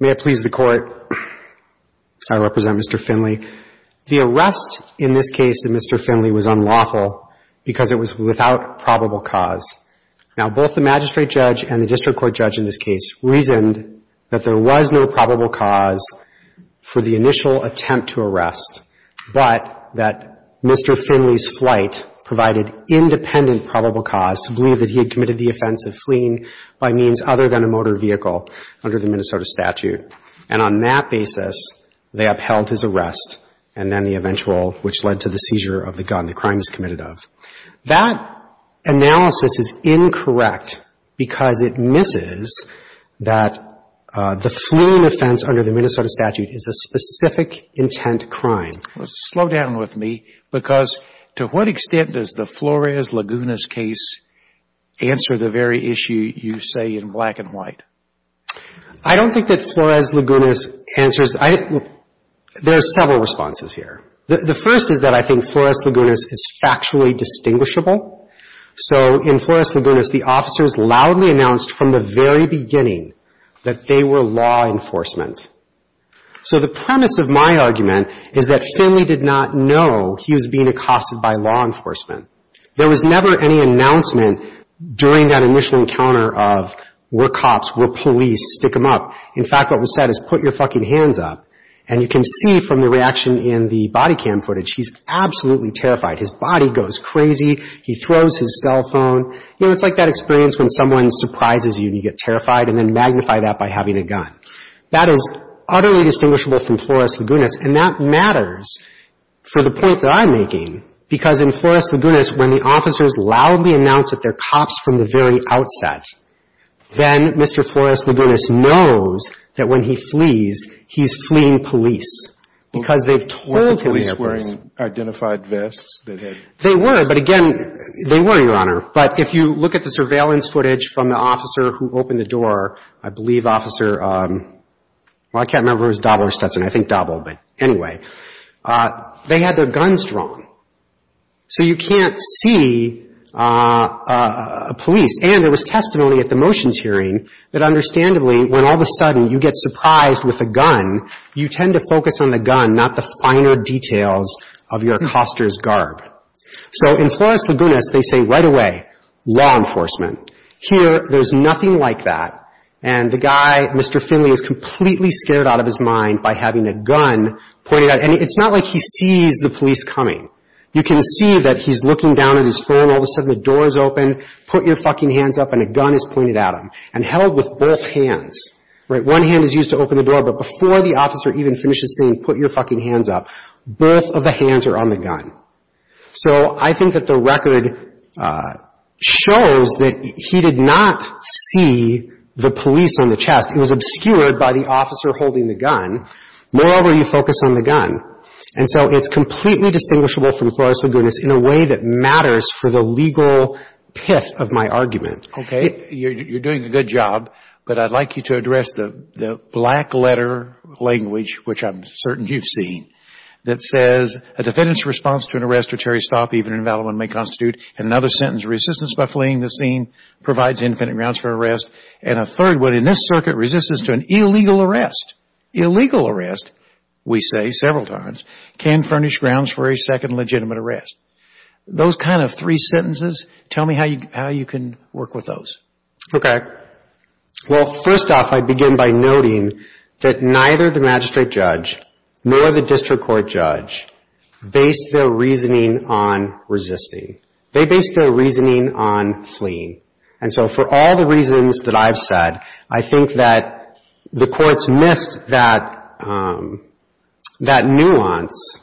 May it please the Court, I represent Mr. Finley. The arrest in this case of Mr. Finley was unlawful because it was without probable cause. Now, both the magistrate judge and the district court judge in this case reasoned that there was no probable cause for the initial attempt to arrest, but that Mr. Finley's flight provided independent probable cause to believe that he had committed the offense of fleeing by means other than a motor vehicle under the Minnesota statute. And on that basis, they upheld his arrest and then the eventual which led to the seizure of the gun, the crime he's committed of. That analysis is incorrect because it misses that the fleeing offense under the Minnesota statute is a specific intent crime. Slow down with me, because to what extent does the Flores-Lagunas case answer the very issue you say in black and white? I don't think that Flores-Lagunas answers — there are several responses here. The first is that I think Flores-Lagunas is factually distinguishable. So in Flores-Lagunas, the officers loudly announced from the very beginning that they were law enforcement. So the premise of my argument is that Finley did not know he was being accosted by law enforcement. There was never any announcement during that initial encounter of were cops, were police, stick them up. In fact, what was said is put your fucking hands up. And you can see from the reaction in the body cam footage, he's absolutely terrified. His body goes crazy. He throws his cell phone. You know, it's like that experience when someone surprises you and you get terrified and then magnify that by having a gun. That is utterly distinguishable from Flores-Lagunas. And that matters for the point that I'm making, because in Flores-Lagunas, when the officers loudly announced that they're cops from the very outset, then Mr. Flores-Lagunas knows that when he flees, he's fleeing police because they've told him he's a police. They weren't wearing identified vests that had been used? They were, but again, they were, Your Honor. But if you look at the surveillance footage from the officer who opened the door, I believe Officer, well, I can't remember who it was, Dobler or Stetson. I think Dobler. But anyway, they had their guns drawn. So you can't see a police. And there was testimony at the motions hearing that understandably, when all of a sudden you get surprised with a gun, you tend to focus on the gun, not the finer details of your coster's garb. So in Flores-Lagunas, they say right away, law enforcement. Here, there's nothing like that. And the guy, Mr. Finley, is completely scared out of his mind by having a gun pointed at him. And it's not like he sees the police coming. You can see that he's looking down at his phone. All of a sudden, the door is open. Put your fucking hands up, and a gun is pointed at him and held with both hands. Right? One hand is used to open the door, but before the officer even finishes saying, put your fucking hands up, both of the hands are on the gun. So I think that the record shows that he did not see the police on the chest. It was obscured by the officer holding the gun. Moreover, you focus on the gun. And so it's completely distinguishable from Flores-Lagunas in a way that matters for the legal pith of my argument. Okay. You're doing a good job, but I'd like you to address the black letter language, which I'm certain you've seen, that says, a defendant's response to an arrest or territory stop, even in a valid one, may constitute another sentence. Resistance by fleeing the scene provides infinite grounds for arrest. And a third would, in this circuit, resistance to an illegal arrest. Illegal arrest, we say several times, can furnish grounds for a second legitimate arrest. Those kind of three sentences, tell me how you can work with those. Okay. Well, first off, I begin by noting that neither the magistrate judge nor the district court judge based their reasoning on resisting. They based their reasoning on fleeing. And I think that the courts missed that nuance.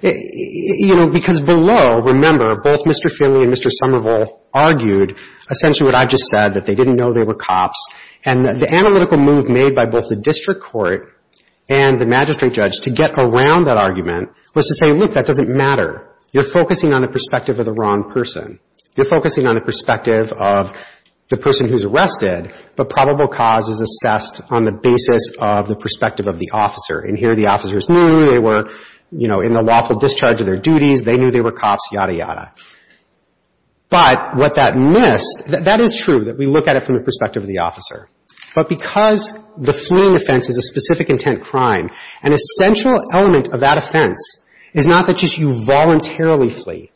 You know, because below, remember, both Mr. Finley and Mr. Somerville argued essentially what I just said, that they didn't know they were cops. And the analytical move made by both the district court and the magistrate judge to get around that argument was to say, look, that doesn't matter. You're focusing on the perspective of the wrong person. You're focusing on the perspective of the person who's arrested, but probable cause is assessed on the basis of the perspective of the officer. And here the officers knew they were, you know, in the lawful discharge of their duties. They knew they were cops, yada, yada. But what that missed, that is true, that we look at it from the perspective of the officer. But because the fleeing offense is a specific intent crime, an essential element of that offense is not that just you voluntarily flee,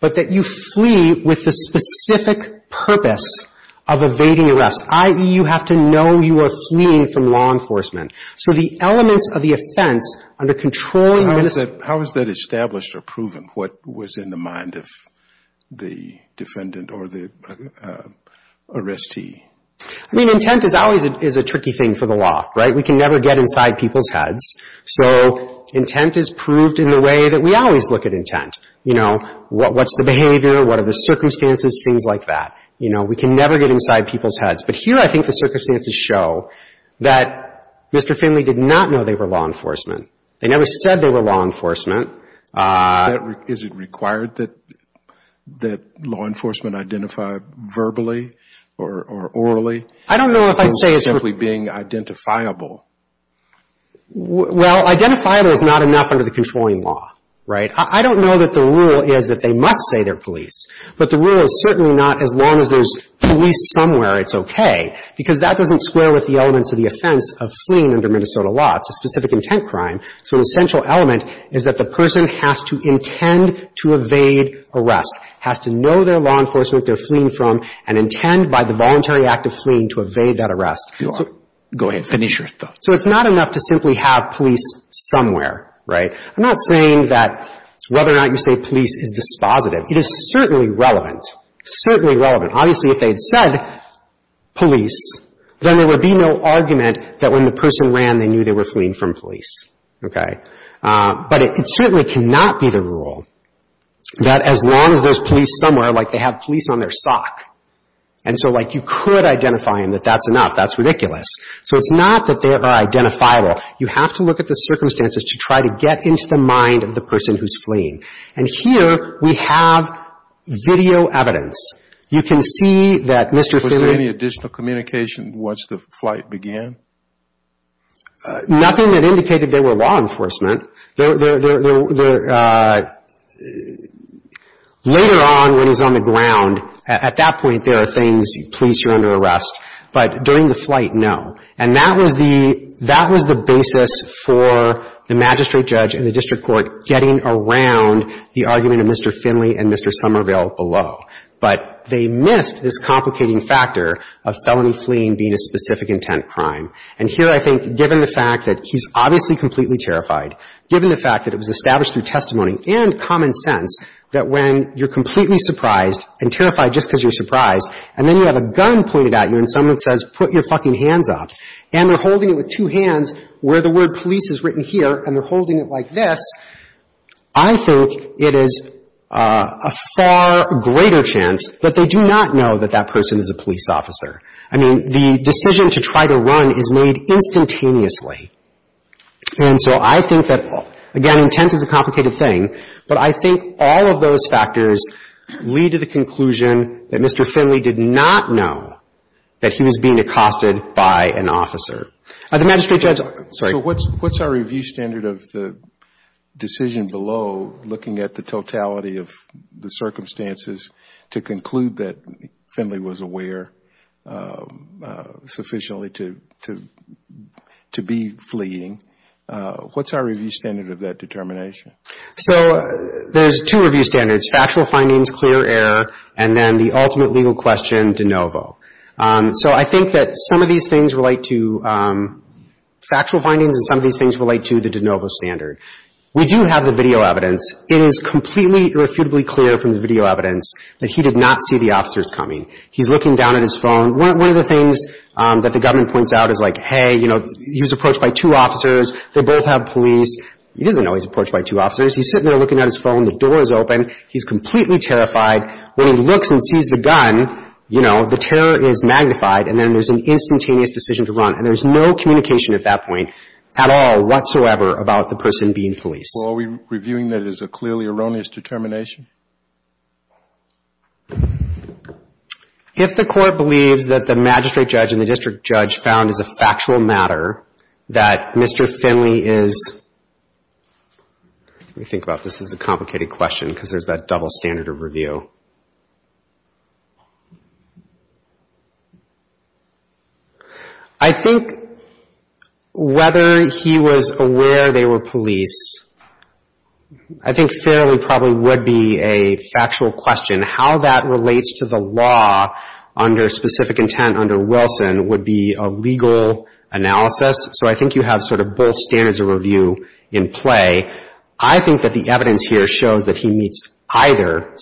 but that you flee with the specific purpose of evading arrest, i.e., you have to know you are fleeing from law enforcement. So the elements of the offense under controlling the minister. How is that established or proven, what was in the mind of the defendant or the arrestee? I mean, intent is always a tricky thing for the law, right? We can never get inside people's heads. So intent is proved in the way that we always look at intent. You know, what's the behavior, what are the circumstances, things like that. You know, we can never get inside people's heads. But here I think the circumstances show that Mr. Finley did not know they were law enforcement. They never said they were law enforcement. Is it required that law enforcement identify verbally or orally? I don't know if I'd say it's required. Identifiable is not enough under the controlling law, right? I don't know that the rule is that they must say they're police, but the rule is certainly not as long as there's police somewhere it's okay, because that doesn't square with the elements of the offense of fleeing under Minnesota law. It's a specific intent crime. So an essential element is that the person has to intend to evade arrest, has to know they're law enforcement they're fleeing from, and intend by the voluntary act of fleeing to evade that arrest. Go ahead, finish your thoughts. So it's not enough to simply have police somewhere, right? I'm not saying that whether or not you say police is dispositive. It is certainly relevant, certainly relevant. Obviously if they had said police, then there would be no argument that when the person ran they knew they were fleeing from police, okay? But it certainly cannot be the rule that as long as there's police somewhere, like they have police on their sock. And so like you could identify them that that's enough, that's ridiculous. So it's not that they are identifiable. You have to look at the circumstances to try to get into the mind of the person who's fleeing. And here we have video evidence. You can see that Mr. Finley Was there any additional communication once the flight began? Nothing that indicated they were law enforcement. They're, they're, they're, they're, later on when he's on the ground, at that point there are things, police, you're under arrest. But during the flight, no. And that was the, that was the basis for the magistrate judge and the district court getting around the argument of Mr. Finley and Mr. Somerville below. But they missed this complicating factor of felony fleeing being a specific intent crime. And here I think given the fact that he's obviously completely terrified, given the fact that it was established through testimony and common sense that when you're completely surprised and terrified just because you're surprised, and then you have a gun pointed at you and someone says, put your fucking hands up, and they're holding it with two hands where the word police is written here, and they're holding it like this, I think it is a far greater chance that they do not know that that person is a police officer. I mean the decision to try to run is made instantaneously. And so I think that, again, intent is a complicated thing, but I think all of those factors lead to the conclusion that Mr. Finley did not know that he was being accosted by an officer. The magistrate judge, sorry. So what's our review standard of the decision below, looking at the totality of the circumstances, to conclude that Finley was aware sufficiently to be fleeing? What's our review standard of that determination? So there's two review standards, factual findings, clear error, and then the ultimate legal question, de novo. So I think that some of these things relate to factual findings and some of these things relate to the de novo standard. We do have the video evidence. It is completely irrefutably clear from the video evidence that he did not see the officers coming. He's looking down at his phone. One of the things that the government points out is like, hey, you know, he was approached by two officers, they both have police. He doesn't know he's approached by two officers. He's sitting there looking at his phone, the door is open, he's completely terrified. When he looks and sees the gun, you know, the terror is magnified, and then there's an instantaneous decision to run. And there's no communication at that point at all whatsoever about the person being police. Well, are we reviewing that as a clearly erroneous determination? If the court believes that the magistrate judge and the district judge found as a factual matter that Mr. Finley is, let me think about this, this is a complicated question because there's that double standard of review. I think whether he was aware they were police, I think fairly probably would be a factual question. How that relates to the law under specific intent under Wilson would be a legal analysis. So I think you have sort of both standards of review in play. I think that the evidence here shows that he meets either,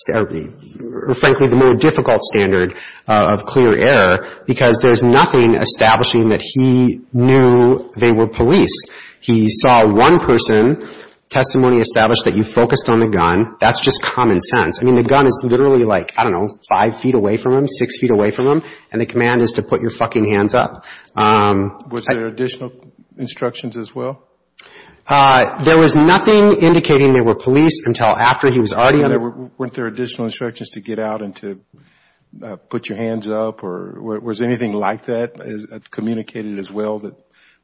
frankly, the more difficult standard of clear error because there's nothing establishing that he knew they were police. He saw one person, testimony established that you focused on the gun. That's just common sense. I mean, the gun is literally like, I don't know, five feet away from him, six feet away from him, and the command is to put your fucking hands up. Was there additional instructions as well? There was nothing indicating they were police until after he was already. Weren't there additional instructions to get out and to put your hands up? Or was anything like that communicated as well that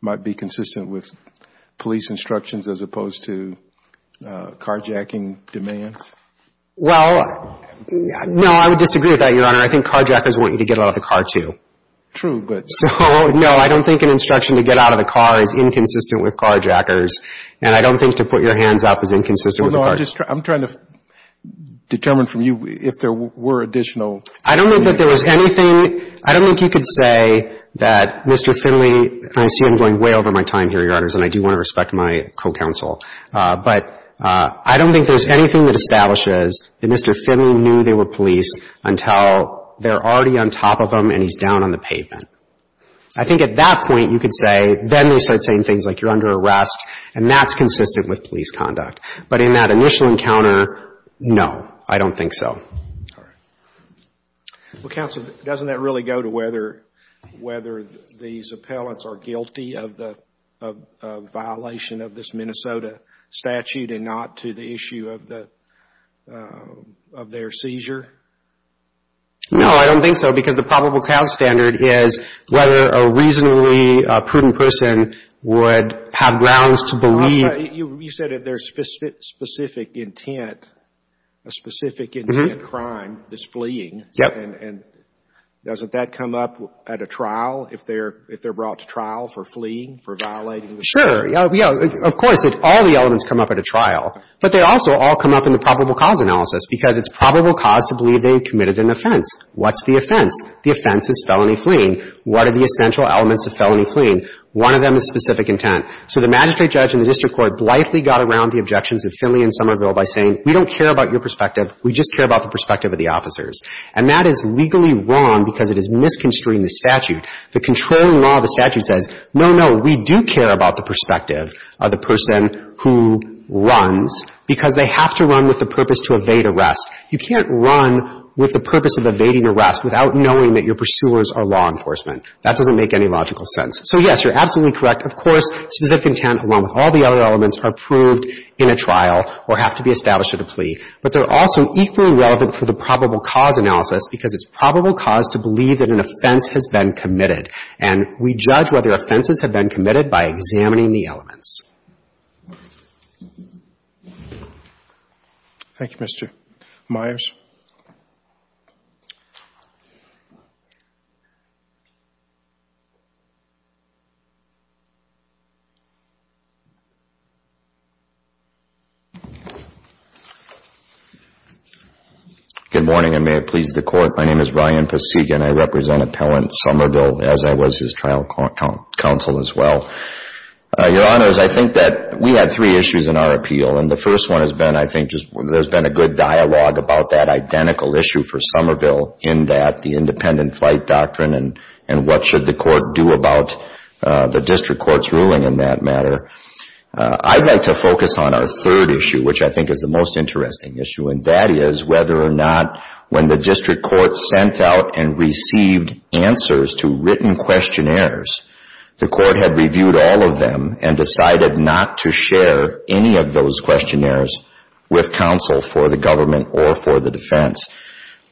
might be consistent with police instructions as opposed to carjacking demands? Well, no, I would disagree with that, Your Honor. I think carjackers want you to get out of the car too. True, but. So, no, I don't think an instruction to get out of the car is inconsistent with carjackers. And I don't think to put your hands up is inconsistent with the carjacker. I'm trying to determine from you if there were additional. I don't think that there was anything, I don't think you could say that Mr. Finley, and I see I'm going way over my time here, Your Honors, and I do want to respect my co-counsel, but I don't think there's anything that establishes that Mr. Finley knew they were police until they're already on top of him and he's down on the pavement. I think at that point, you could say, then they start saying things like you're under arrest and that's consistent with police conduct. But in that initial encounter, no, I don't think so. Well, counsel, doesn't that really go to whether, whether these appellants are guilty of the violation of this Minnesota statute and not to the issue of the, of their seizure? No, I don't think so because the probable cause standard is whether a reasonably prudent person would have grounds to believe. You said that there's specific intent, a specific intent crime, this fleeing. Yep. And doesn't that come up at a trial if they're, if they're brought to trial for fleeing, for violating the statute? Sure, yeah, of course, all the elements come up at a trial, but they also all come up in the probable cause analysis because it's probable cause to believe they committed an offense. What's the offense? The offense is felony fleeing. What are the essential elements of felony fleeing? One of them is specific intent. So the magistrate judge and the district court blithely got around the objections of Finley and Somerville by saying, we don't care about your perspective, we just care about the perspective of the officers. And that is legally wrong because it is misconstruing the statute. The controlling law of the statute says, no, no, we do care about the perspective of the person who runs because they have to run with the purpose to evade arrest. You can't run with the purpose of evading arrest without knowing that your pursuers are law enforcement. That doesn't make any logical sense. So, yes, you're absolutely correct. Of course, specific intent, along with all the other elements, are proved in a trial or have to be established at a plea. But they're also equally relevant for the probable cause analysis because it's probable cause to believe that an offense has been committed. And we judge whether offenses have been committed by examining the elements. Thank you, Mr. Myers. Good morning, and may it please the Court. My name is Brian Pasigian. I represent Appellant Somerville, as I was his trial counsel as well. Your Honors, I think that we had three issues in our appeal. And the first one has been, I think, there's been a good dialogue about that identical issue for Somerville in that the independent flight doctrine and what should the court do about the district court's ruling in that matter. I'd like to focus on our third issue, which I think is the most interesting issue. And that is whether or not when the district court sent out and received answers to written questionnaires, the court had reviewed all of them and decided not to share any of those questionnaires with counsel for the government or for the defense.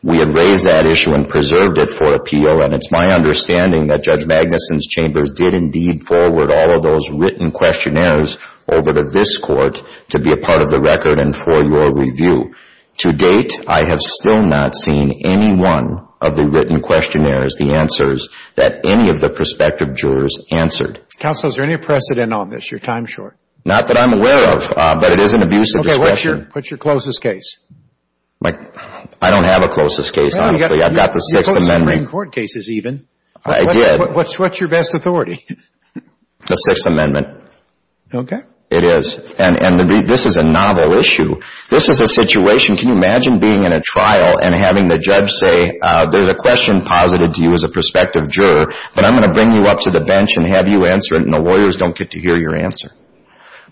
We had raised that issue and preserved it for appeal. And it's my understanding that Judge Magnuson's chambers did indeed forward all of those written questionnaires over to this court to be a part of the record and for your review. To date, I have still not seen any one of the written questionnaires, the answers that any of the prospective jurors answered. Counsel, is there any precedent on this? Your time's short. Not that I'm aware of, but it is an abusive discretion. Okay, what's your closest case? I don't have a closest case, honestly. I've got the Sixth Amendment. You've got Supreme Court cases even. I did. What's your best authority? The Sixth Amendment. Okay. It is. And this is a novel issue. This is a situation, can you imagine being in a trial and having the judge say, there's a question posited to you as a prospective juror, but I'm going to bring you up to the bench and have you answer it, and the lawyers don't get to hear your answer.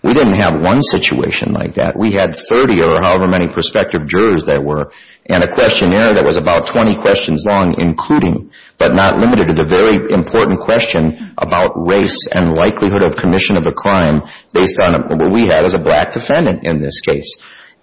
We didn't have one situation like that. We had 30 or however many prospective jurors there were, and a questionnaire that was about 20 questions long, including, but not limited to, the very important question about race and likelihood of commission of a crime based on what we had as a black defendant in this case.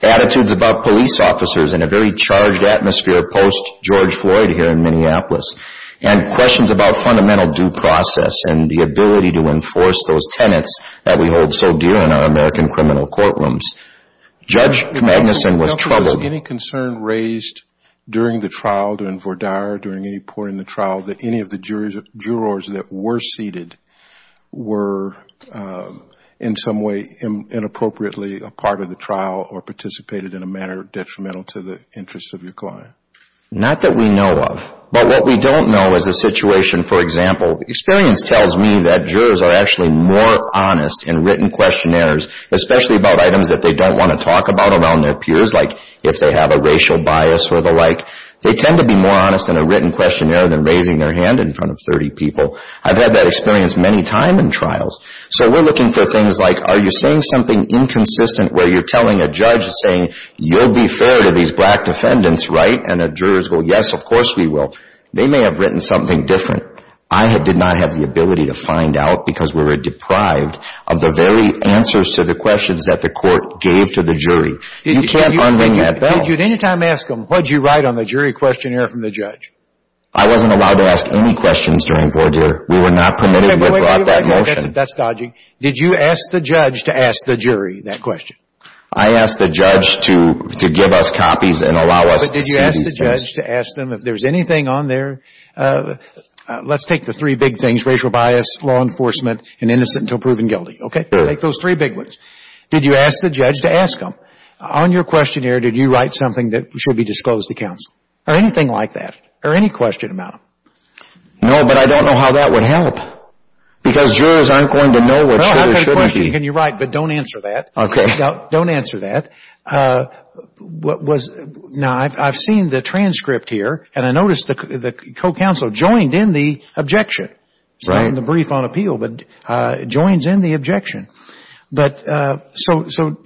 Attitudes about police officers in a very charged atmosphere post-George Floyd here in Minneapolis, and questions about fundamental due process and the ability to enforce those tenets that we hold so dear in our American criminal courtrooms. Judge Magnuson was troubled. Was there any concern raised during the trial, during VORDAR, during any part in the trial that any of the jurors that were seated were in some way inappropriately a part of the trial or participated in a manner detrimental to the interests of your client? Not that we know of. But what we don't know is a situation, for example, experience tells me that jurors are actually more honest in written questionnaires, especially about items that they don't want to talk about around their peers, like if they have a racial bias or the like. They tend to be more honest in a written questionnaire than raising their hand in front of 30 people. I've had that experience many times in trials. So we're looking for things like, are you saying something inconsistent where you're telling a judge, saying, you'll be fair to these black defendants, right? And the jurors go, yes, of course we will. They may have written something different. I did not have the ability to find out because we were deprived of the very answers to the jury. You can't un-ring that bell. Did you at any time ask them, what did you write on the jury questionnaire from the judge? I wasn't allowed to ask any questions during vordure. We were not permitted to have brought that motion. That's dodgy. Did you ask the judge to ask the jury that question? I asked the judge to give us copies and allow us to use these cases. But did you ask the judge to ask them if there's anything on there? Let's take the three big things, racial bias, law enforcement, and innocent until proven guilty, okay? Sure. Take those three big ones. Did you ask the judge to ask them? On your questionnaire, did you write something that should be disclosed to counsel or anything like that or any question about them? No, but I don't know how that would help because jurors aren't going to know what jurors shouldn't be. Well, I have a question. Can you write, but don't answer that. Okay. Don't answer that. Now, I've seen the transcript here, and I noticed the co-counsel joined in the objection. Right. It's not in the brief on appeal, but it joins in the objection. But, so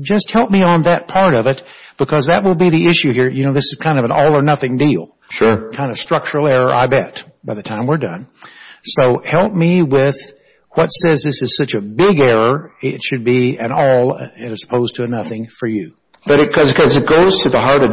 just help me on that part of it because that will be the issue here. You know, this is kind of an all or nothing deal. Sure. Kind of structural error, I bet, by the time we're done. So help me with what says this is such a big error, it should be an all as opposed to a nothing for you. Because it goes to the heart of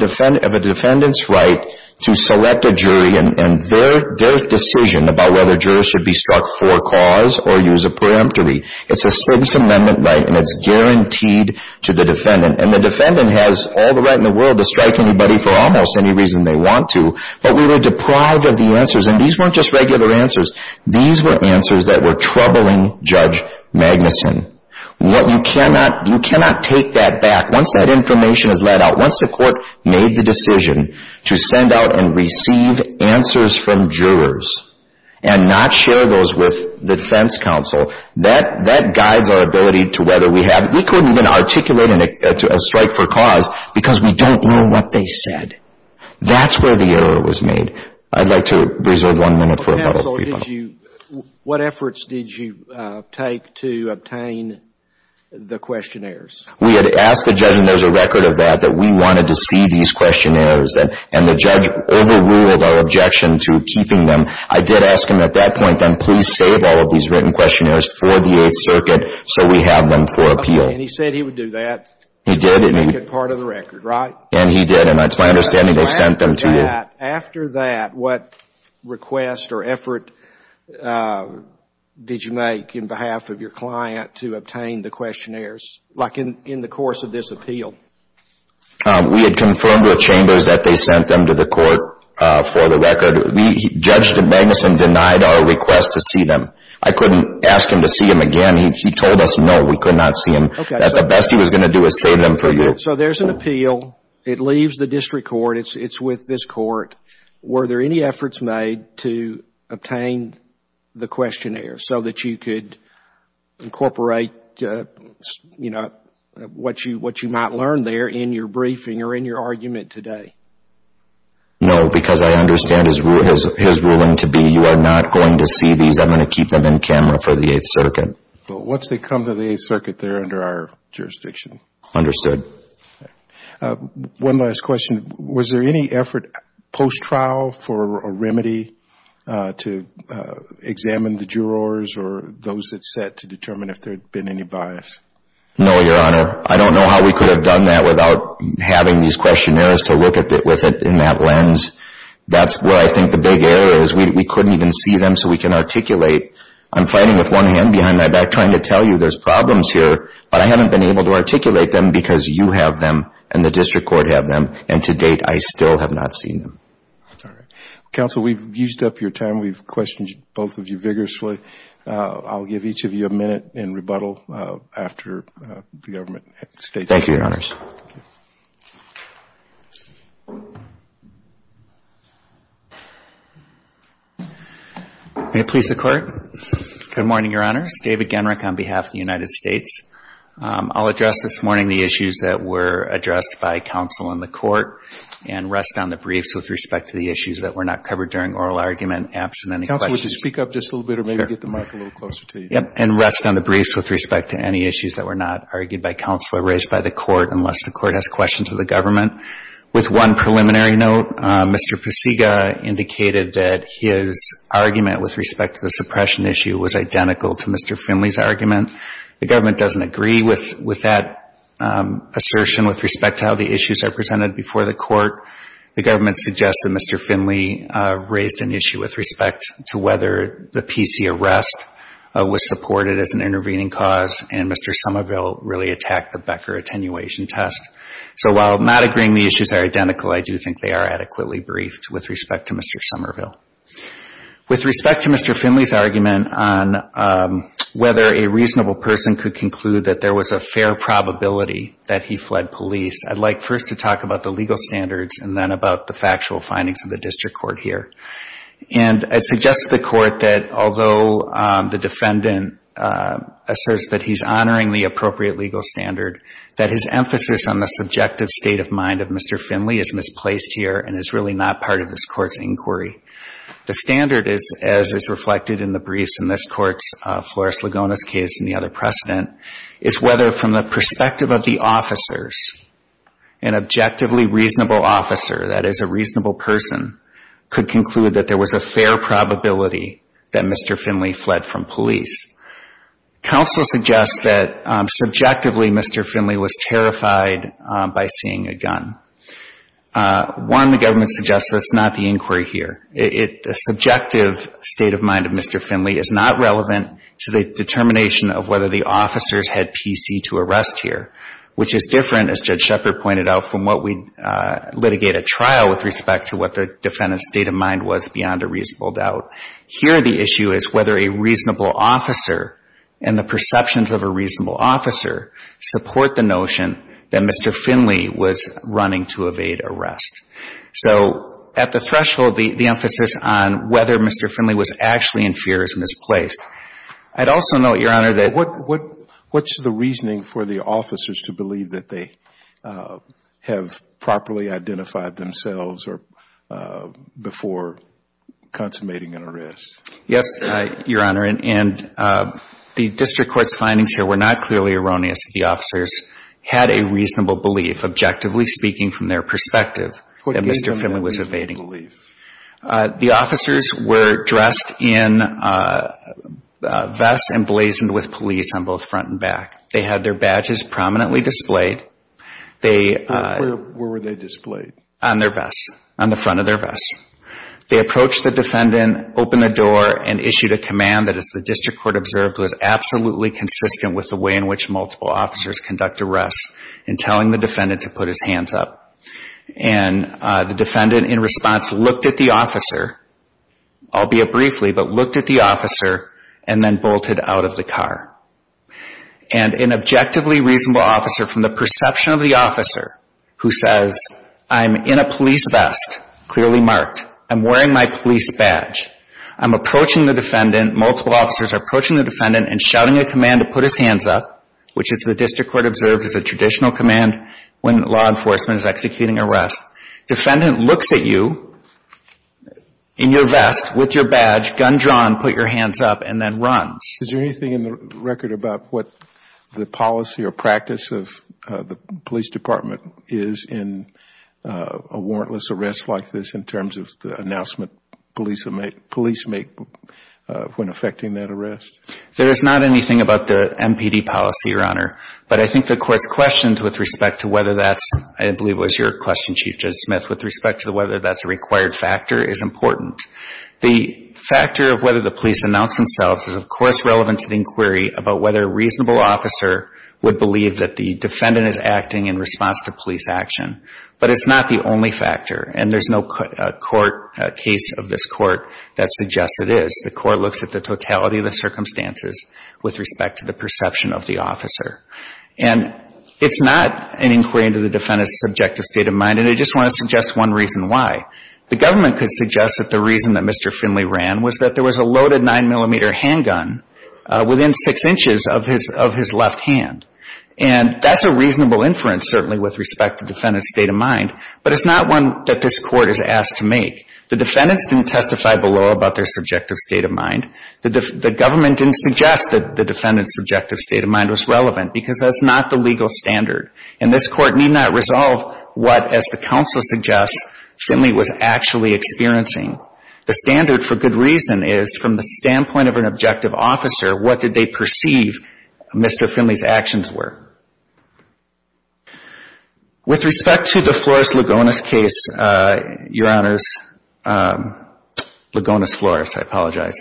a defendant's right to select a jury and their decision about whether jurors should be struck for a cause or use a peremptory. It's a service amendment right, and it's guaranteed to the defendant. And the defendant has all the right in the world to strike anybody for almost any reason they want to. But we were deprived of the answers, and these weren't just regular answers. These were answers that were troubling Judge Magnuson. You cannot take that back once that information is let out. Once the court made the decision to send out and receive answers from jurors and not share those with the defense counsel, that guides our ability to whether we have, we couldn't even articulate a strike for cause because we don't know what they said. That's where the error was made. I'd like to reserve one minute for a bottle of free bottle. What efforts did you take to obtain the questionnaires? We had asked the judge, and there's a record of that, that we wanted to see these questionnaires. And the judge overruled our objection to keeping them. I did ask him at that point, then, please save all of these written questionnaires for the Eighth Circuit so we have them for appeal. Okay, and he said he would do that. He did. And he would make it part of the record, right? And he did, and it's my understanding they sent them to you. After that, what request or effort did you make in behalf of your client to obtain the questionnaires, like in the course of this appeal? We had confirmed with Chambers that they sent them to the court for the record. The judge at Magnuson denied our request to see them. I couldn't ask him to see them again. He told us, no, we could not see them, that the best he was going to do is save them for you. So there's an appeal. It leaves the district court. It's with this court. Were there any efforts made to obtain the questionnaire so that you could incorporate what you might learn there in your briefing or in your argument today? No, because I understand his ruling to be you are not going to see these. I'm going to keep them in camera for the Eighth Circuit. But once they come to the Eighth Circuit, they're under our jurisdiction. Understood. Okay. One last question. Was there any effort post-trial for a remedy to examine the jurors or those that sat to determine if there had been any bias? No, Your Honor. I don't know how we could have done that without having these questionnaires to look at it with that lens. That's where I think the big error is. We couldn't even see them so we can articulate. I'm fighting with one hand behind my back trying to tell you there's problems here. But I haven't been able to articulate them because you have them and the district court have them. And to date, I still have not seen them. That's all right. Counsel, we've used up your time. We've questioned both of you vigorously. I'll give each of you a minute in rebuttal after the government states their case. Thank you, Your Honors. May it please the Court? Good morning, Your Honors. David Genrick on behalf of the United States. I'll address this morning the issues that were addressed by counsel in the court and rest on the briefs with respect to the issues that were not covered during oral argument absent any questions. Would you speak up just a little bit or maybe get the mic a little closer to you? And rest on the briefs with respect to any issues that were not argued by counsel or raised by the court unless the court has questions of the government. With one preliminary note, Mr. Pasiga indicated that his argument with respect to the suppression issue was identical to Mr. Finley's argument. The government doesn't agree with that assertion with respect to how the issues are presented before the court. The government suggests that Mr. Finley raised an issue with respect to whether the PC arrest was supported as an intervening cause and Mr. Somerville really attacked the Becker attenuation test. So while not agreeing the issues are identical, I do think they are adequately briefed with respect to Mr. Somerville. With respect to Mr. Finley's argument on whether a reasonable person could conclude that there about the factual findings of the district court here. And I suggest to the court that although the defendant asserts that he's honoring the appropriate legal standard, that his emphasis on the subjective state of mind of Mr. Finley is misplaced here and is really not part of this court's inquiry. The standard is, as is reflected in the briefs in this court's Flores-Lagonas case and the other precedent, is whether from the perspective of the officers, an objectively reasonable officer, that is a reasonable person, could conclude that there was a fair probability that Mr. Finley fled from police. Counsel suggests that subjectively Mr. Finley was terrified by seeing a gun. One, the government suggests that's not the inquiry here. The subjective state of mind of Mr. Finley is not relevant to the determination of whether the officers had PC to arrest here, which is different, as Judge Shepard pointed out, from what we'd litigate at trial with respect to what the defendant's state of mind was beyond a reasonable doubt. Here the issue is whether a reasonable officer and the perceptions of a reasonable officer support the notion that Mr. Finley was running to evade arrest. So at the threshold, the emphasis on whether Mr. Finley was actually in fear is misplaced. I'd also note, Your Honor, that what's the reasoning for the officers to believe that they have properly identified themselves before consummating an arrest? Yes, Your Honor, and the district court's findings here were not clearly erroneous. The officers had a reasonable belief, objectively speaking from their perspective, that Mr. Finley was evading. The officers were dressed in vests and blazoned with police on both front and back. They had their badges prominently displayed. Where were they displayed? On their vests, on the front of their vests. They approached the defendant, opened the door, and issued a command that, as the district court observed, was absolutely consistent with the way in which multiple officers conduct arrests in telling the defendant to put his hands up. And the defendant, in response, looked at the officer, albeit briefly, but looked at the officer and then bolted out of the car. And an objectively reasonable officer, from the perception of the officer, who says, I'm in a police vest, clearly marked, I'm wearing my police badge, I'm approaching the defendant, multiple officers are approaching the defendant and shouting a command to put his hands up, which is, the district court observed, is a traditional command when law enforcement is executing arrests. Defendant looks at you in your vest, with your badge, gun drawn, put your hands up, and then runs. Is there anything in the record about what the policy or practice of the police department is in a warrantless arrest like this, in terms of the announcement police make when effecting that arrest? There is not anything about the MPD policy, Your Honor, but I think the court's questions with respect to whether that's, I believe it was your question, Chief Judge Smith, with respect to whether that's a required factor, is important. The factor of whether the police announce themselves is, of course, relevant to the inquiry about whether a reasonable officer would believe that the defendant is acting in response to police action. But it's not the only factor, and there's no court, case of this court, that suggests it is. The court looks at the totality of the circumstances with respect to the perception of the officer. And it's not an inquiry into the defendant's subjective state of mind, and I just want to suggest one reason why. The government could suggest that the reason that Mr. Finley ran was that there was a loaded nine-millimeter handgun within six inches of his left hand. And that's a reasonable inference, certainly, with respect to defendant's state of mind, but it's not one that this court is asked to make. The defendants didn't testify below about their subjective state of mind. The government didn't suggest that the defendant's subjective state of mind was relevant, because that's not the legal standard. And this court need not resolve what, as the counsel suggests, Finley was actually experiencing. The standard, for good reason, is from the standpoint of an objective officer, what did they perceive Mr. Finley's actions were. With respect to the Flores-Lugones case, Your Honors, Lugones-Flores, I apologize,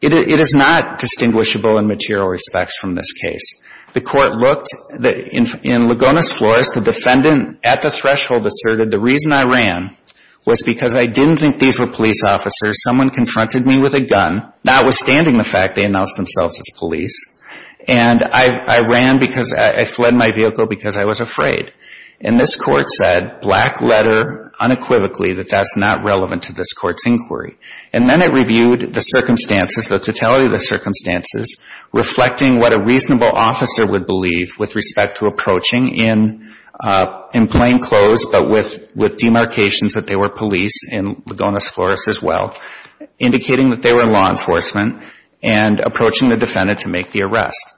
it is not distinguishable in material respects from this case. The court looked, in Lugones-Flores, the defendant at the threshold asserted, the reason I ran was because I didn't think these were police officers. Someone confronted me with a gun, notwithstanding the fact they announced themselves as police. And I ran because I fled my vehicle because I was afraid. And this court said, black letter, unequivocally, that that's not relevant to this court's inquiry. And then it reviewed the circumstances, the totality of the circumstances, reflecting what a reasonable officer would believe with respect to approaching in plain clothes, but with demarcations that they were police in Lugones-Flores as well, indicating that they were law enforcement, and approaching the defendant to make the arrest.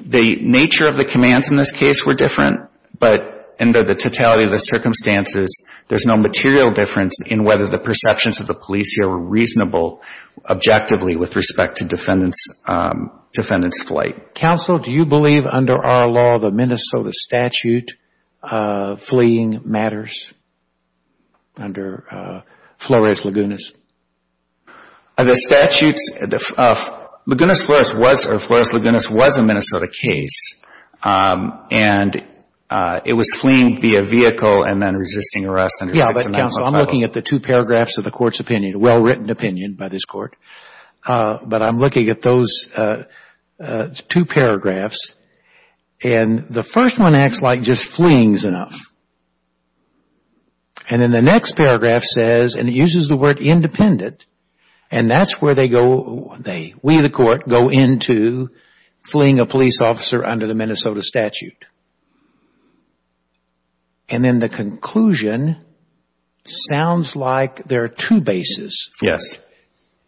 The nature of the commands in this case were different, but under the totality of the circumstances, there's no material difference in whether the perceptions of the police here were reasonable, objectively, with respect to defendant's flight. Counsel, do you believe, under our law, the Minnesota statute of fleeing matters under Flores-Lugones? The statutes, Lugones-Flores was, or Flores-Lugones was a Minnesota case. And it was fleeing via vehicle and then resisting arrest under 6-9-0. Yeah, but counsel, I'm looking at the two paragraphs of the court's opinion, well-written opinion by this court, but I'm looking at those two paragraphs. And the first one acts like just fleeing is enough. And then the next paragraph says, and it uses the word independent, and that's where they go, we the court, go into fleeing a police officer under the Minnesota statute. And then the conclusion sounds like there are two bases for it. Yes.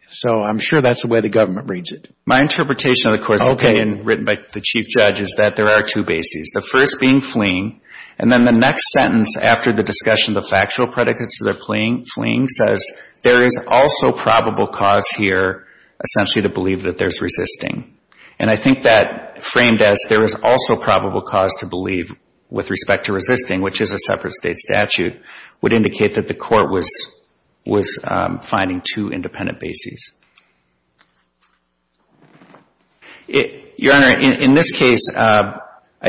So I'm sure that's the way the government reads it. My interpretation of the court's opinion written by the Chief Judge is that there are two bases. The first being fleeing, and then the next sentence after the discussion, the factual predicates to their fleeing says, there is also probable cause here, essentially, to believe that there's resisting. And I think that framed as there is also probable cause to believe with respect to resisting, which is a separate state statute, would indicate that the court was finding two independent bases. Your Honor, in this case, I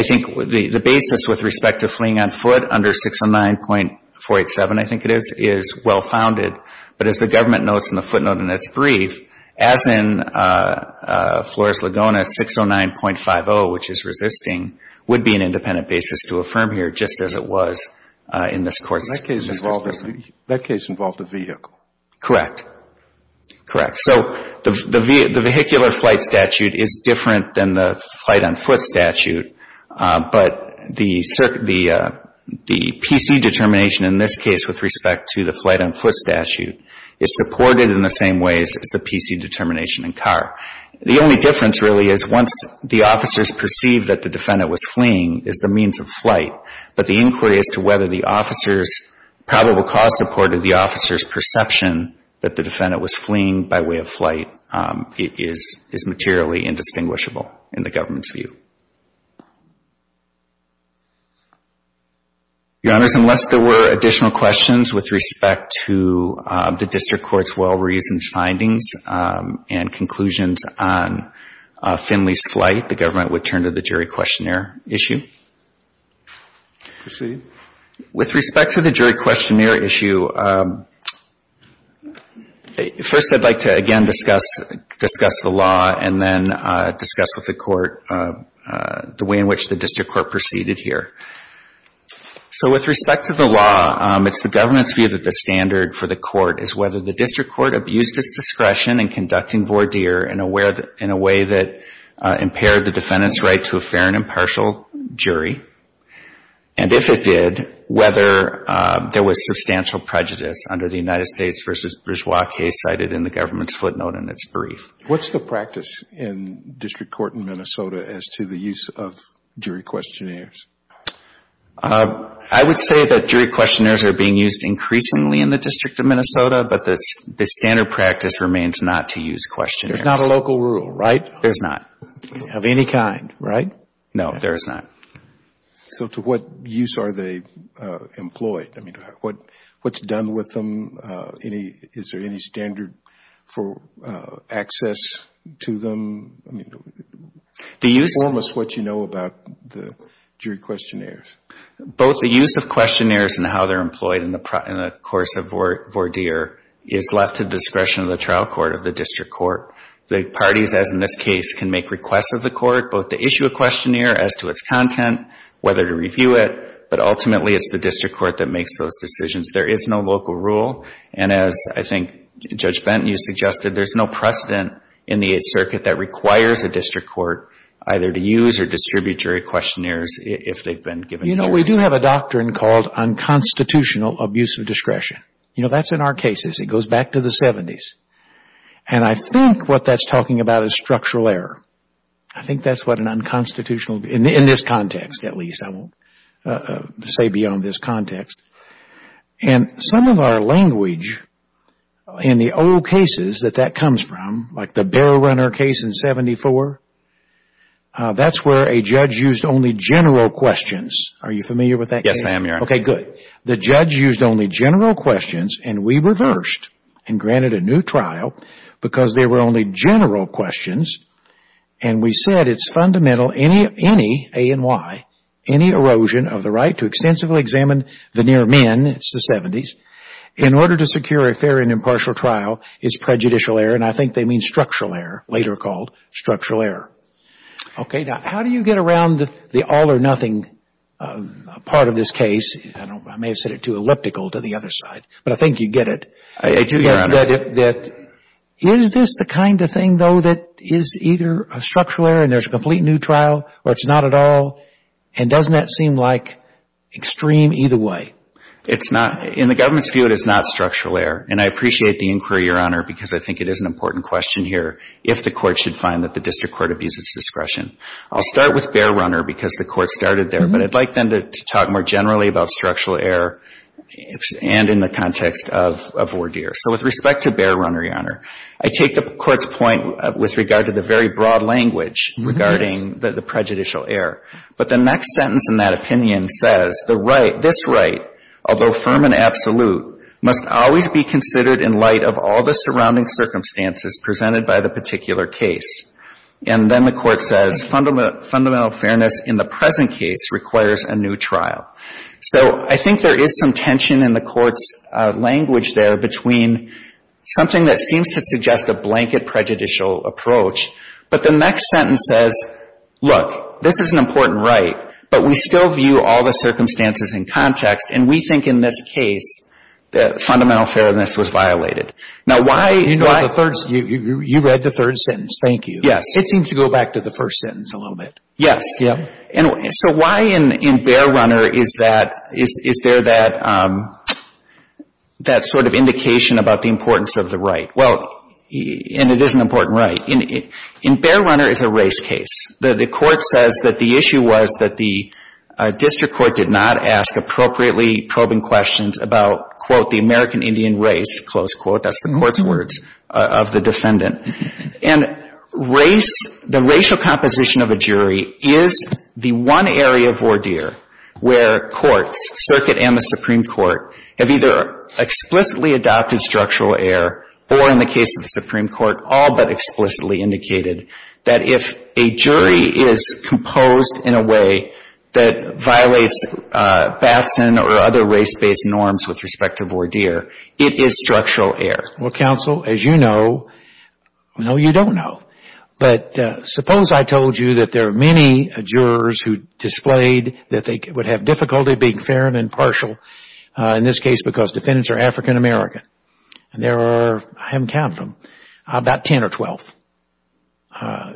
think the basis with respect to fleeing on foot under 6-9.487, I think it is, is well-founded. But as the government notes in the footnote in its brief, as in Flores-Laguna, 609.50, which is resisting, would be an independent basis to affirm here, just as it was in this Court's presentation. That case involved a vehicle. Correct. Correct. So the vehicular flight statute is different than the flight on foot statute. But the P.C. determination in this case with respect to the flight on foot statute is supported in the same ways as the P.C. determination in car. The only difference, really, is once the officers perceive that the defendant was fleeing, is the means of flight. But the inquiry as to whether the officers' probable cause supported the officer's perception that the defendant was fleeing by way of flight is materially indistinguishable in the government's view. Your Honors, unless there were additional questions with respect to the District Court's well-reasoned findings and conclusions on Finley's flight, the government would turn to the jury questionnaire issue. Proceed. With respect to the jury questionnaire issue, first I'd like to, again, discuss the law and then discuss with the Court the way in which the District Court proceeded here. So with respect to the law, it's the government's view that the standard for the Court is whether the District Court abused its discretion in conducting voir dire in a way that impaired the defendant's right to a fair and impartial jury, and if it did, whether there was substantial prejudice under the United States v. Bourgeois case cited in the government's footnote in its brief. What's the practice in District Court in Minnesota as to the use of jury questionnaires? I would say that jury questionnaires are being used increasingly in the District of Minnesota, but the standard practice remains not to use questionnaires. There's not a local rule, right? There's not. Of any kind, right? No, there is not. So to what use are they employed? I mean, what's done with them? Is there any standard for access to them? Inform us what you know about the jury questionnaires. Both the use of questionnaires and how they're employed in the course of voir dire is left to the discretion of the trial court of the District Court. The parties, as in this case, can make requests of the Court, both to issue a questionnaire as to its content, whether to review it, but ultimately it's the District Court that makes those decisions. There is no local rule. And as I think Judge Benton, you suggested, there's no precedent in the Eighth Circuit that requires a District Court either to use or distribute jury questionnaires if they've been given the choice. You know, we do have a doctrine called unconstitutional abuse of discretion. You know, that's in our cases. It goes back to the 70s. And I think what that's talking about is structural error. I think that's what an unconstitutional, in this context at least, I won't say beyond this context. And some of our language in the old cases that that comes from, like the Bear Runner case in 1974, that's where a judge used only general questions. Are you familiar with that case? Yes, I am, Your Honor. Okay, good. The judge used only general questions and we reversed and granted a new trial because they were only general questions. And we said it's fundamental any, A and Y, any erosion of the right to extensively examine the near men, it's the 70s, in order to secure a fair and impartial trial, it's prejudicial error. And I think they mean structural error, later called structural error. Okay, now how do you get around the all or nothing part of this case? I don't know. I may have said it too elliptical to the other side, but I think you get it. I do, Your Honor. That is this the kind of thing, though, that is either a structural error and there's a complete new trial or it's not at all? And doesn't that seem like extreme either way? It's not. In the government's view, it is not structural error. And I appreciate the inquiry, Your Honor, because I think it is an important question here, if the court should find that the district court abuses discretion. I'll start with Bear Runner because the court started there, but I'd like then to talk more generally about structural error and in the context of ordeer. So with respect to Bear Runner, Your Honor, I take the court's point with regard to the very broad language regarding the prejudicial error. But the next sentence in that opinion says the right, this right, although firm and absolute, must always be considered in light of all the surrounding circumstances presented by the particular case. And then the court says fundamental fairness in the present case requires a new trial. So I think there is some tension in the court's language there between something that seems to suggest a blanket prejudicial approach, but the next sentence says, look, this is an important right, but we still view all the circumstances in context and we think in this case that fundamental fairness was violated. Now, why? You know, the third, you read the third sentence. Thank you. Yes. It seems to go back to the first sentence a little bit. Yes. Yeah. And so why in Bear Runner is there that sort of indication about the importance of the right? Well, and it is an important right. In Bear Runner, it's a race case. The court says that the issue was that the district court did not ask appropriately probing questions about, quote, the American Indian race, close quote. That's the court's words of the defendant. And race, the racial composition of a jury is the one area of ordeer where courts, circuit and the Supreme Court, have either explicitly adopted structural error or in the case of the Supreme Court all but explicitly indicated that if a jury is composed in a way that violates Batson or other race-based norms with respect to ordeer, it is structural error. Well, counsel, as you know, no, you don't know. But suppose I told you that there are many jurors who displayed that they would have difficulty being fair and impartial, in this case because defendants are African-American. And there are, I haven't counted them, about 10 or 12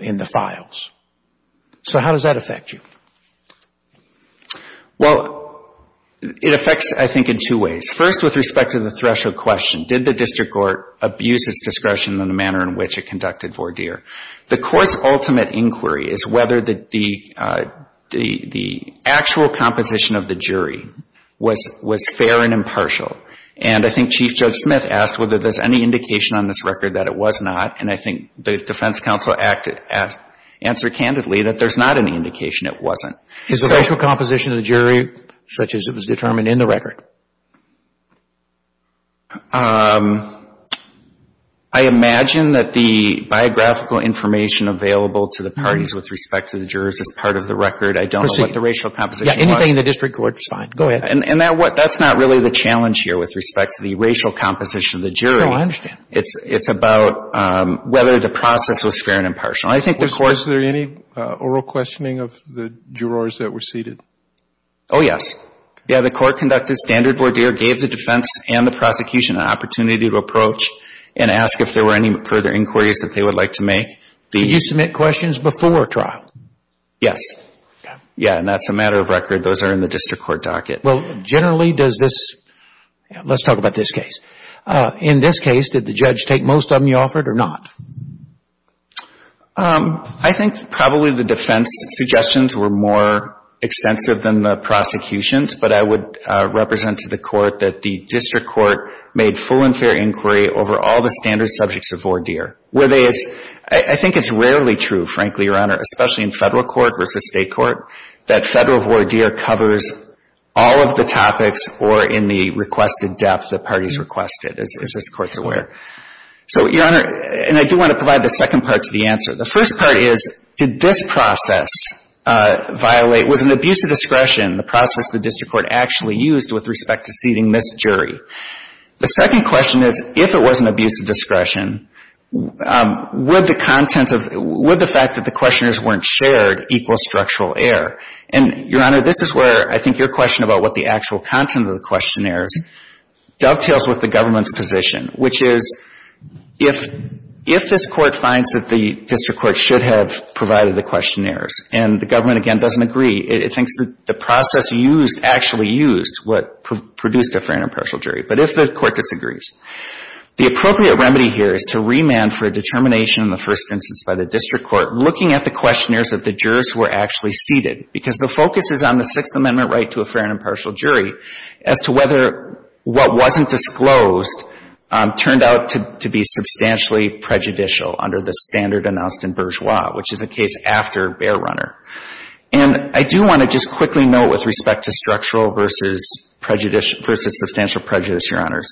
in the files. So how does that affect you? Well, it affects, I think, in two ways. First, with respect to the threshold question. Did the district court abuse its discretion in the manner in which it conducted ordeer? The court's ultimate inquiry is whether the actual composition of the jury was fair and impartial. And I think Chief Judge Smith asked whether there's any indication on this record that it was not. And I think the defense counsel answered candidly that there's not any indication it wasn't. Is the racial composition of the jury such as it was determined in the record? I imagine that the biographical information available to the parties with respect to the jurors is part of the record. I don't know what the racial composition was. Yeah. Anything in the district court is fine. Go ahead. And that's not really the challenge here with respect to the racial composition of the jury. No, I understand. It's about whether the process was fair and impartial. I think the court — Was there any oral questioning of the jurors that were seated? Oh, yes. Yeah. The court conducted standard ordeer, gave the defense and the prosecution an opportunity to approach and ask if there were any further inquiries that they would like to make. Did you submit questions before trial? Yes. Yeah, and that's a matter of record. Those are in the district court docket. Well, generally does this — let's talk about this case. In this case, did the judge take most of them you offered or not? I think probably the defense suggestions were more extensive than the prosecutions, but I would represent to the court that the district court made full and fair inquiry over all the standard subjects of ordeer, where they — I think it's rarely true, frankly, Your Honor, especially in federal court versus state court, that federal ordeer covers all of the topics or in the requested depth that parties requested, as this Court's aware. So, Your Honor — and I do want to provide the second part to the answer. The first part is, did this process violate — was an abuse of discretion, the process the district court actually used with respect to seating this jury? The second question is, if it was an abuse of discretion, would the content of — would the fact that the questionnaires weren't shared equal structural error? And, Your Honor, this is where I think your question about what the actual content of the questionnaires dovetails with the government's position, which is, if this court finds that the district court should have provided the questionnaires and the government, again, doesn't agree, it thinks that the process used — actually used what produced a fair and impartial jury. But if the court disagrees, the appropriate remedy here is to remand for a determination in the first instance by the district court, looking at the questionnaires that the jurors were actually seated. Because the focus is on the Sixth Amendment right to a fair and impartial jury as to whether what wasn't disclosed turned out to be substantially prejudicial under the standard announced in Bourgeois, which is a case after Bear Runner. And I do want to just quickly note with respect to structural versus substantial prejudice, Your Honors,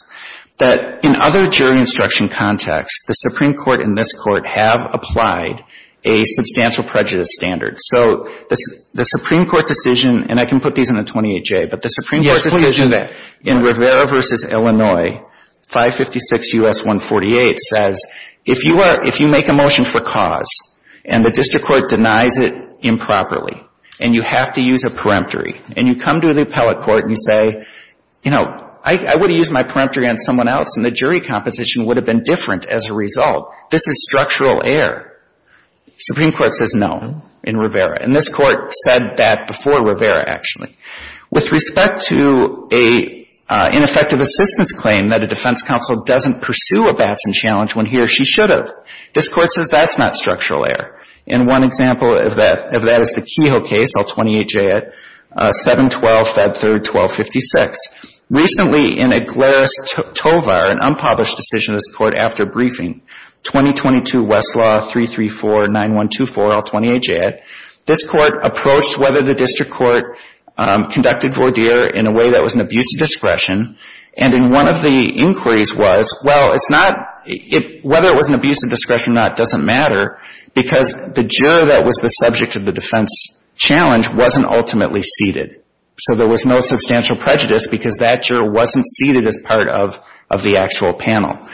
that in other jury instruction contexts, the Supreme Court and this Court have applied a substantial prejudice standard. So the Supreme Court decision — and I can put these in a 28-J — but the Supreme Court decision in Rivera v. Illinois, 556 U.S. 148, says, if you are — if you make a motion for cause and the district court denies it improperly and you have to use a peremptory and you come to the appellate court and you say, you know, I would have used my peremptory on someone else and the jury composition would have been different as a result, this is structural error. Supreme Court says no in Rivera. And this Court said that before Rivera, actually. With respect to an ineffective assistance claim that a defense counsel doesn't pursue a Batson challenge when he or she should have. This Court says that's not structural error. And one example of that is the Kehoe case, L28J at 7-12, Feb. 3, 1256. Recently, in a glaris tovar, an unpublished decision of this Court after briefing, 2022 Westlaw 334-9124, L28J, this Court approached whether the district court conducted voir dire in a way that was an abuse of discretion. And in one of the inquiries was, well, it's not, whether it was an abuse of discretion or not doesn't matter because the juror that was the subject of the defense challenge wasn't ultimately seated. So there was no substantial prejudice because that juror wasn't seated as part of the actual panel.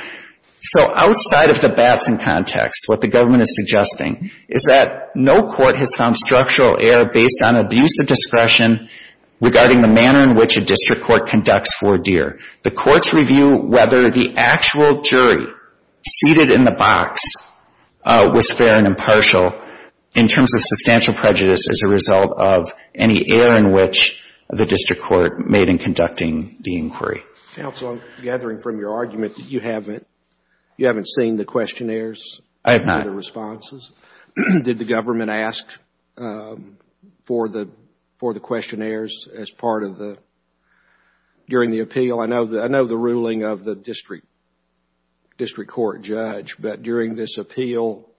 So outside of the Batson context, what the government is suggesting is that no court has found structural error based on abuse of discretion regarding the manner in which a district court conducts voir dire. The courts review whether the actual jury seated in the box was fair and impartial in terms of substantial prejudice as a result of any error in which the district court made in conducting the inquiry. Counsel, I'm gathering from your argument that you haven't seen the questionnaires. I have not. Did the government ask for the questionnaires as part of the, during the appeal? I know the ruling of the district court judge, but during this appeal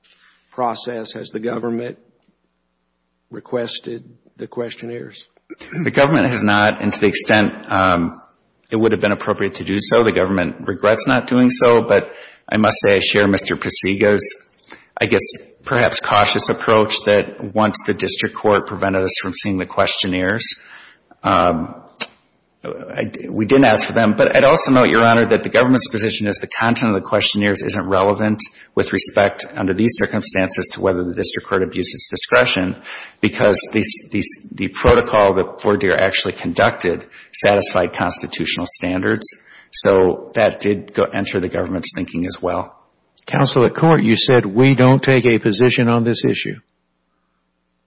process, has the government requested the questionnaires? The government has not and to the extent it would have been appropriate to do so. The government regrets not doing so. But I must say, I share Mr. Presigo's, I guess, perhaps cautious approach that once the district court prevented us from seeing the questionnaires, we didn't ask for them. But I'd also note, Your Honor, that the government's position is the content of the questionnaires isn't relevant with respect under these circumstances to whether the district court abuses discretion because the protocol that voir dire actually conducted satisfied constitutional standards. So that did enter the government's thinking as well. Counsel, at court, you said we don't take a position on this issue.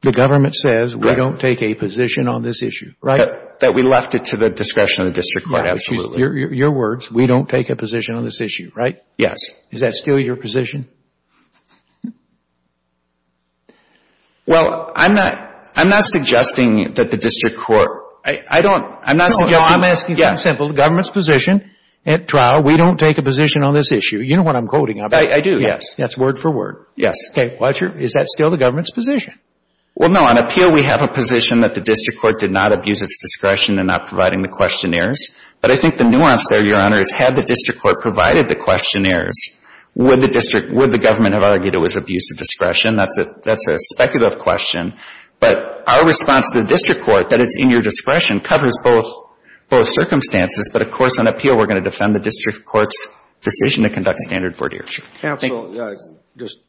The government says we don't take a position on this issue, right? That we left it to the discretion of the district court, absolutely. Your words, we don't take a position on this issue, right? Yes. Is that still your position? Well, I'm not, I'm not suggesting that the district court, I don't, I'm not suggesting. It's simple. The government's position at trial, we don't take a position on this issue. You know what I'm quoting, don't you? I do. Yes. That's word for word. Yes. Okay. Roger, is that still the government's position? Well, no. On appeal, we have a position that the district court did not abuse its discretion in not providing the questionnaires. But I think the nuance there, Your Honor, is had the district court provided the questionnaires, would the government have argued it was abuse of discretion? That's a speculative question. But our response to the district court, that it's in your discretion, covers both circumstances. But, of course, on appeal, we're going to defend the district court's decision to conduct standard vortier. Counsel, just,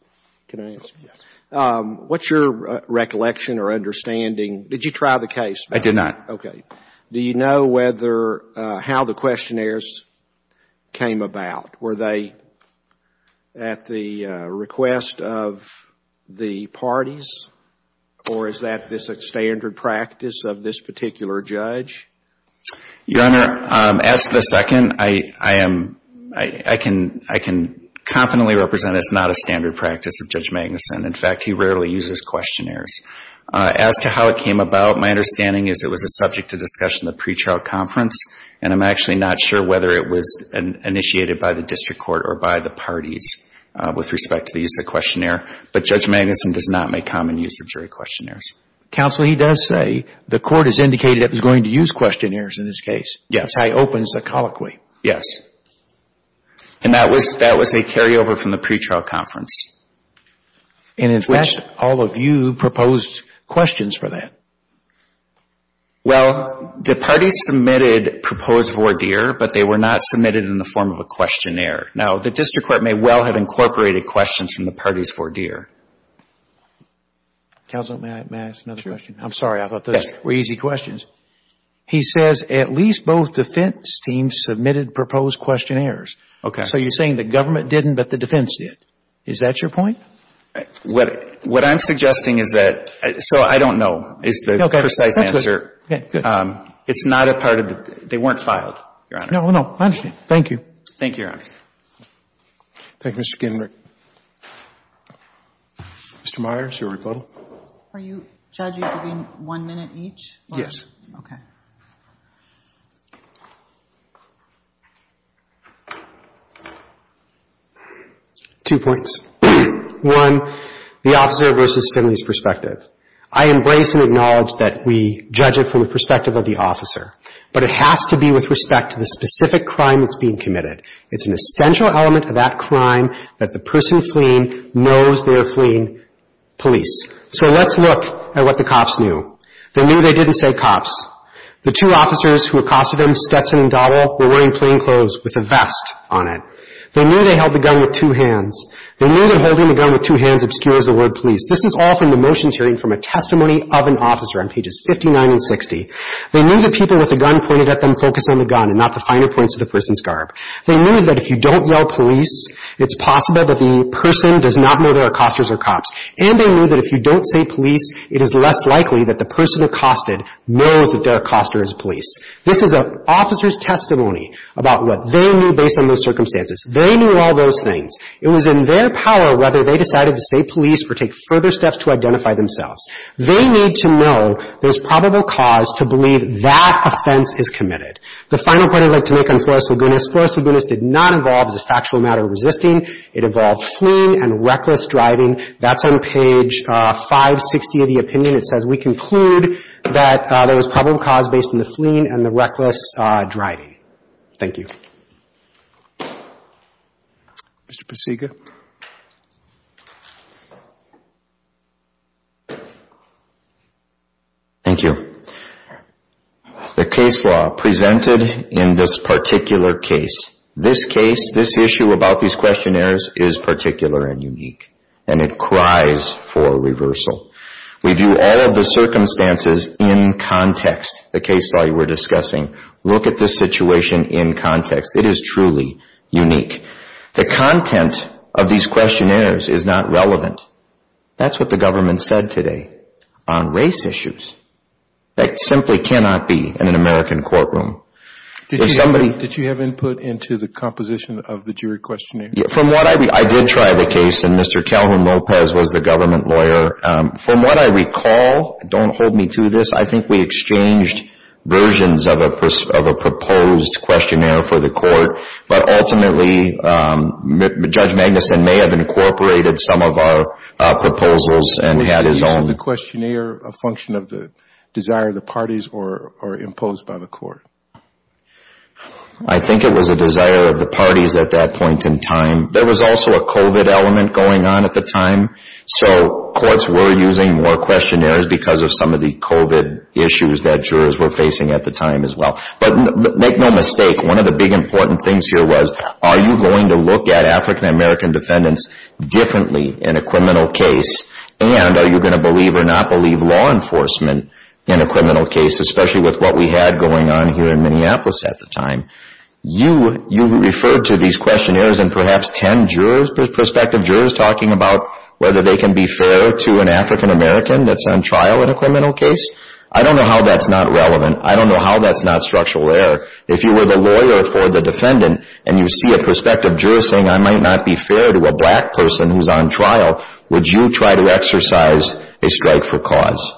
can I answer? Yes. What's your recollection or understanding? Did you try the case? I did not. Okay. Do you know whether, how the questionnaires came about? Were they at the request of the parties? Or is that this standard practice of this particular judge? Your Honor, ask the second. I am, I can confidently represent it's not a standard practice of Judge Magnuson. In fact, he rarely uses questionnaires. As to how it came about, my understanding is it was a subject to discussion in the pretrial conference. And I'm actually not sure whether it was initiated by the district court or by the parties with respect to the use of the questionnaire. But Judge Magnuson does not make common use of jury questionnaires. Counsel, he does say the court has indicated it was going to use questionnaires in this case. Yes. That's how he opens the colloquy. Yes. And that was a carryover from the pretrial conference. And in fact, all of you proposed questions for that. Well, the parties submitted proposed vortier, but they were not submitted in the form of a questionnaire. Now, the district court may well have incorporated questions from the parties' vortier. Counsel, may I ask another question? Sure. I'm sorry. I thought those were easy questions. He says at least both defense teams submitted proposed questionnaires. Okay. So you're saying the government didn't, but the defense did. Is that your point? What I'm suggesting is that, so I don't know is the precise answer. Okay. That's good. Okay, good. It's not a part of the, they weren't filed, Your Honor. No, no, I understand. Thank you. Thank you, Your Honor. Thank you, Mr. Gindberg. Mr. Meyers, your rebuttal. Are you judging between one minute each? Yes. Okay. Two points. One, the officer versus Finley's perspective. I embrace and acknowledge that we judge it from the perspective of the officer, but it has to be with respect to the specific crime that's being committed. It's an essential element of that crime that the person is committing. The person fleeing knows they're fleeing police. So let's look at what the cops knew. They knew they didn't say cops. The two officers who accosted them, Stetson and Dottle, were wearing plain clothes with a vest on it. They knew they held the gun with two hands. They knew that holding the gun with two hands obscures the word police. This is all from the motions hearing from a testimony of an officer on pages 59 and 60. They knew the people with the gun pointed at them focused on the gun and not the finer points of the person's garb. They knew that if you don't yell police, it's possible that the person does not know they're accosters or cops. And they knew that if you don't say police, it is less likely that the person accosted knows that they're accoster as police. This is an officer's testimony about what they knew based on those circumstances. They knew all those things. It was in their power whether they decided to say police or take further steps to identify themselves. They need to know there's probable cause to believe that offense is committed. The final point I'd like to make on Flores-Lagunas, Flores-Lagunas did not involve as a factual matter resisting. It involved fleeing and reckless driving. That's on page 560 of the opinion. It says we conclude that there was probable cause based on the fleeing and the reckless driving. Thank you. Mr. Pasiga. Thank you. The case law presented in this particular case, this case, this issue about these questionnaires is particular and unique. And it cries for reversal. We view all of the circumstances in context. The case law you were discussing, look at this situation in context. It is truly unique. The content of these questionnaires is not relevant. That's what the government said today on race issues. That simply cannot be in an American courtroom. Did you have input into the composition of the jury questionnaire? I did try the case and Mr. Calhoun-Lopez was the government lawyer. From what I recall, don't hold me to this, I think we exchanged versions of a proposed questionnaire for the court. But ultimately, Judge Magnuson may have incorporated some of our proposals and had his own. Was the questionnaire a function of the desire of the parties or imposed by the court? I think it was a desire of the parties at that point in time. There was also a COVID element going on at the time. So courts were using more questionnaires because of some of the COVID issues that jurors were facing at the time as well. But make no mistake, one of the big important things here was, are you going to look at African American defendants differently in a criminal case? And are you going to believe or not believe law enforcement in a criminal case, especially with what we had going on here in Minneapolis at the time? You referred to these questionnaires and perhaps 10 prospective jurors talking about whether they can be fair to an African American that's on trial in a criminal case. I don't know how that's not relevant. I don't know how that's not structural error. If you were the lawyer for the defendant and you see a prospective juror saying, I might not be fair to a black person who's on trial, would you try to exercise a strike for cause?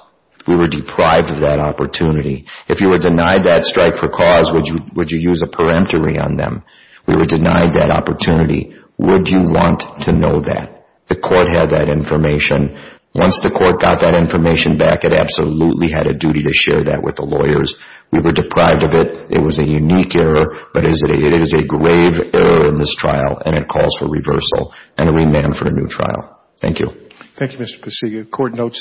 We were deprived of that opportunity. If you were denied that strike for cause, would you use a peremptory on them? We were denied that opportunity. Would you want to know that? The court had that information. Once the court got that information back, it absolutely had a duty to share that with the lawyers. We were deprived of it. It was a unique error. But it is a grave error in this trial and it calls for reversal and a remand for a new trial. Thank you. Thank you, Mr. Passillo. Court notes.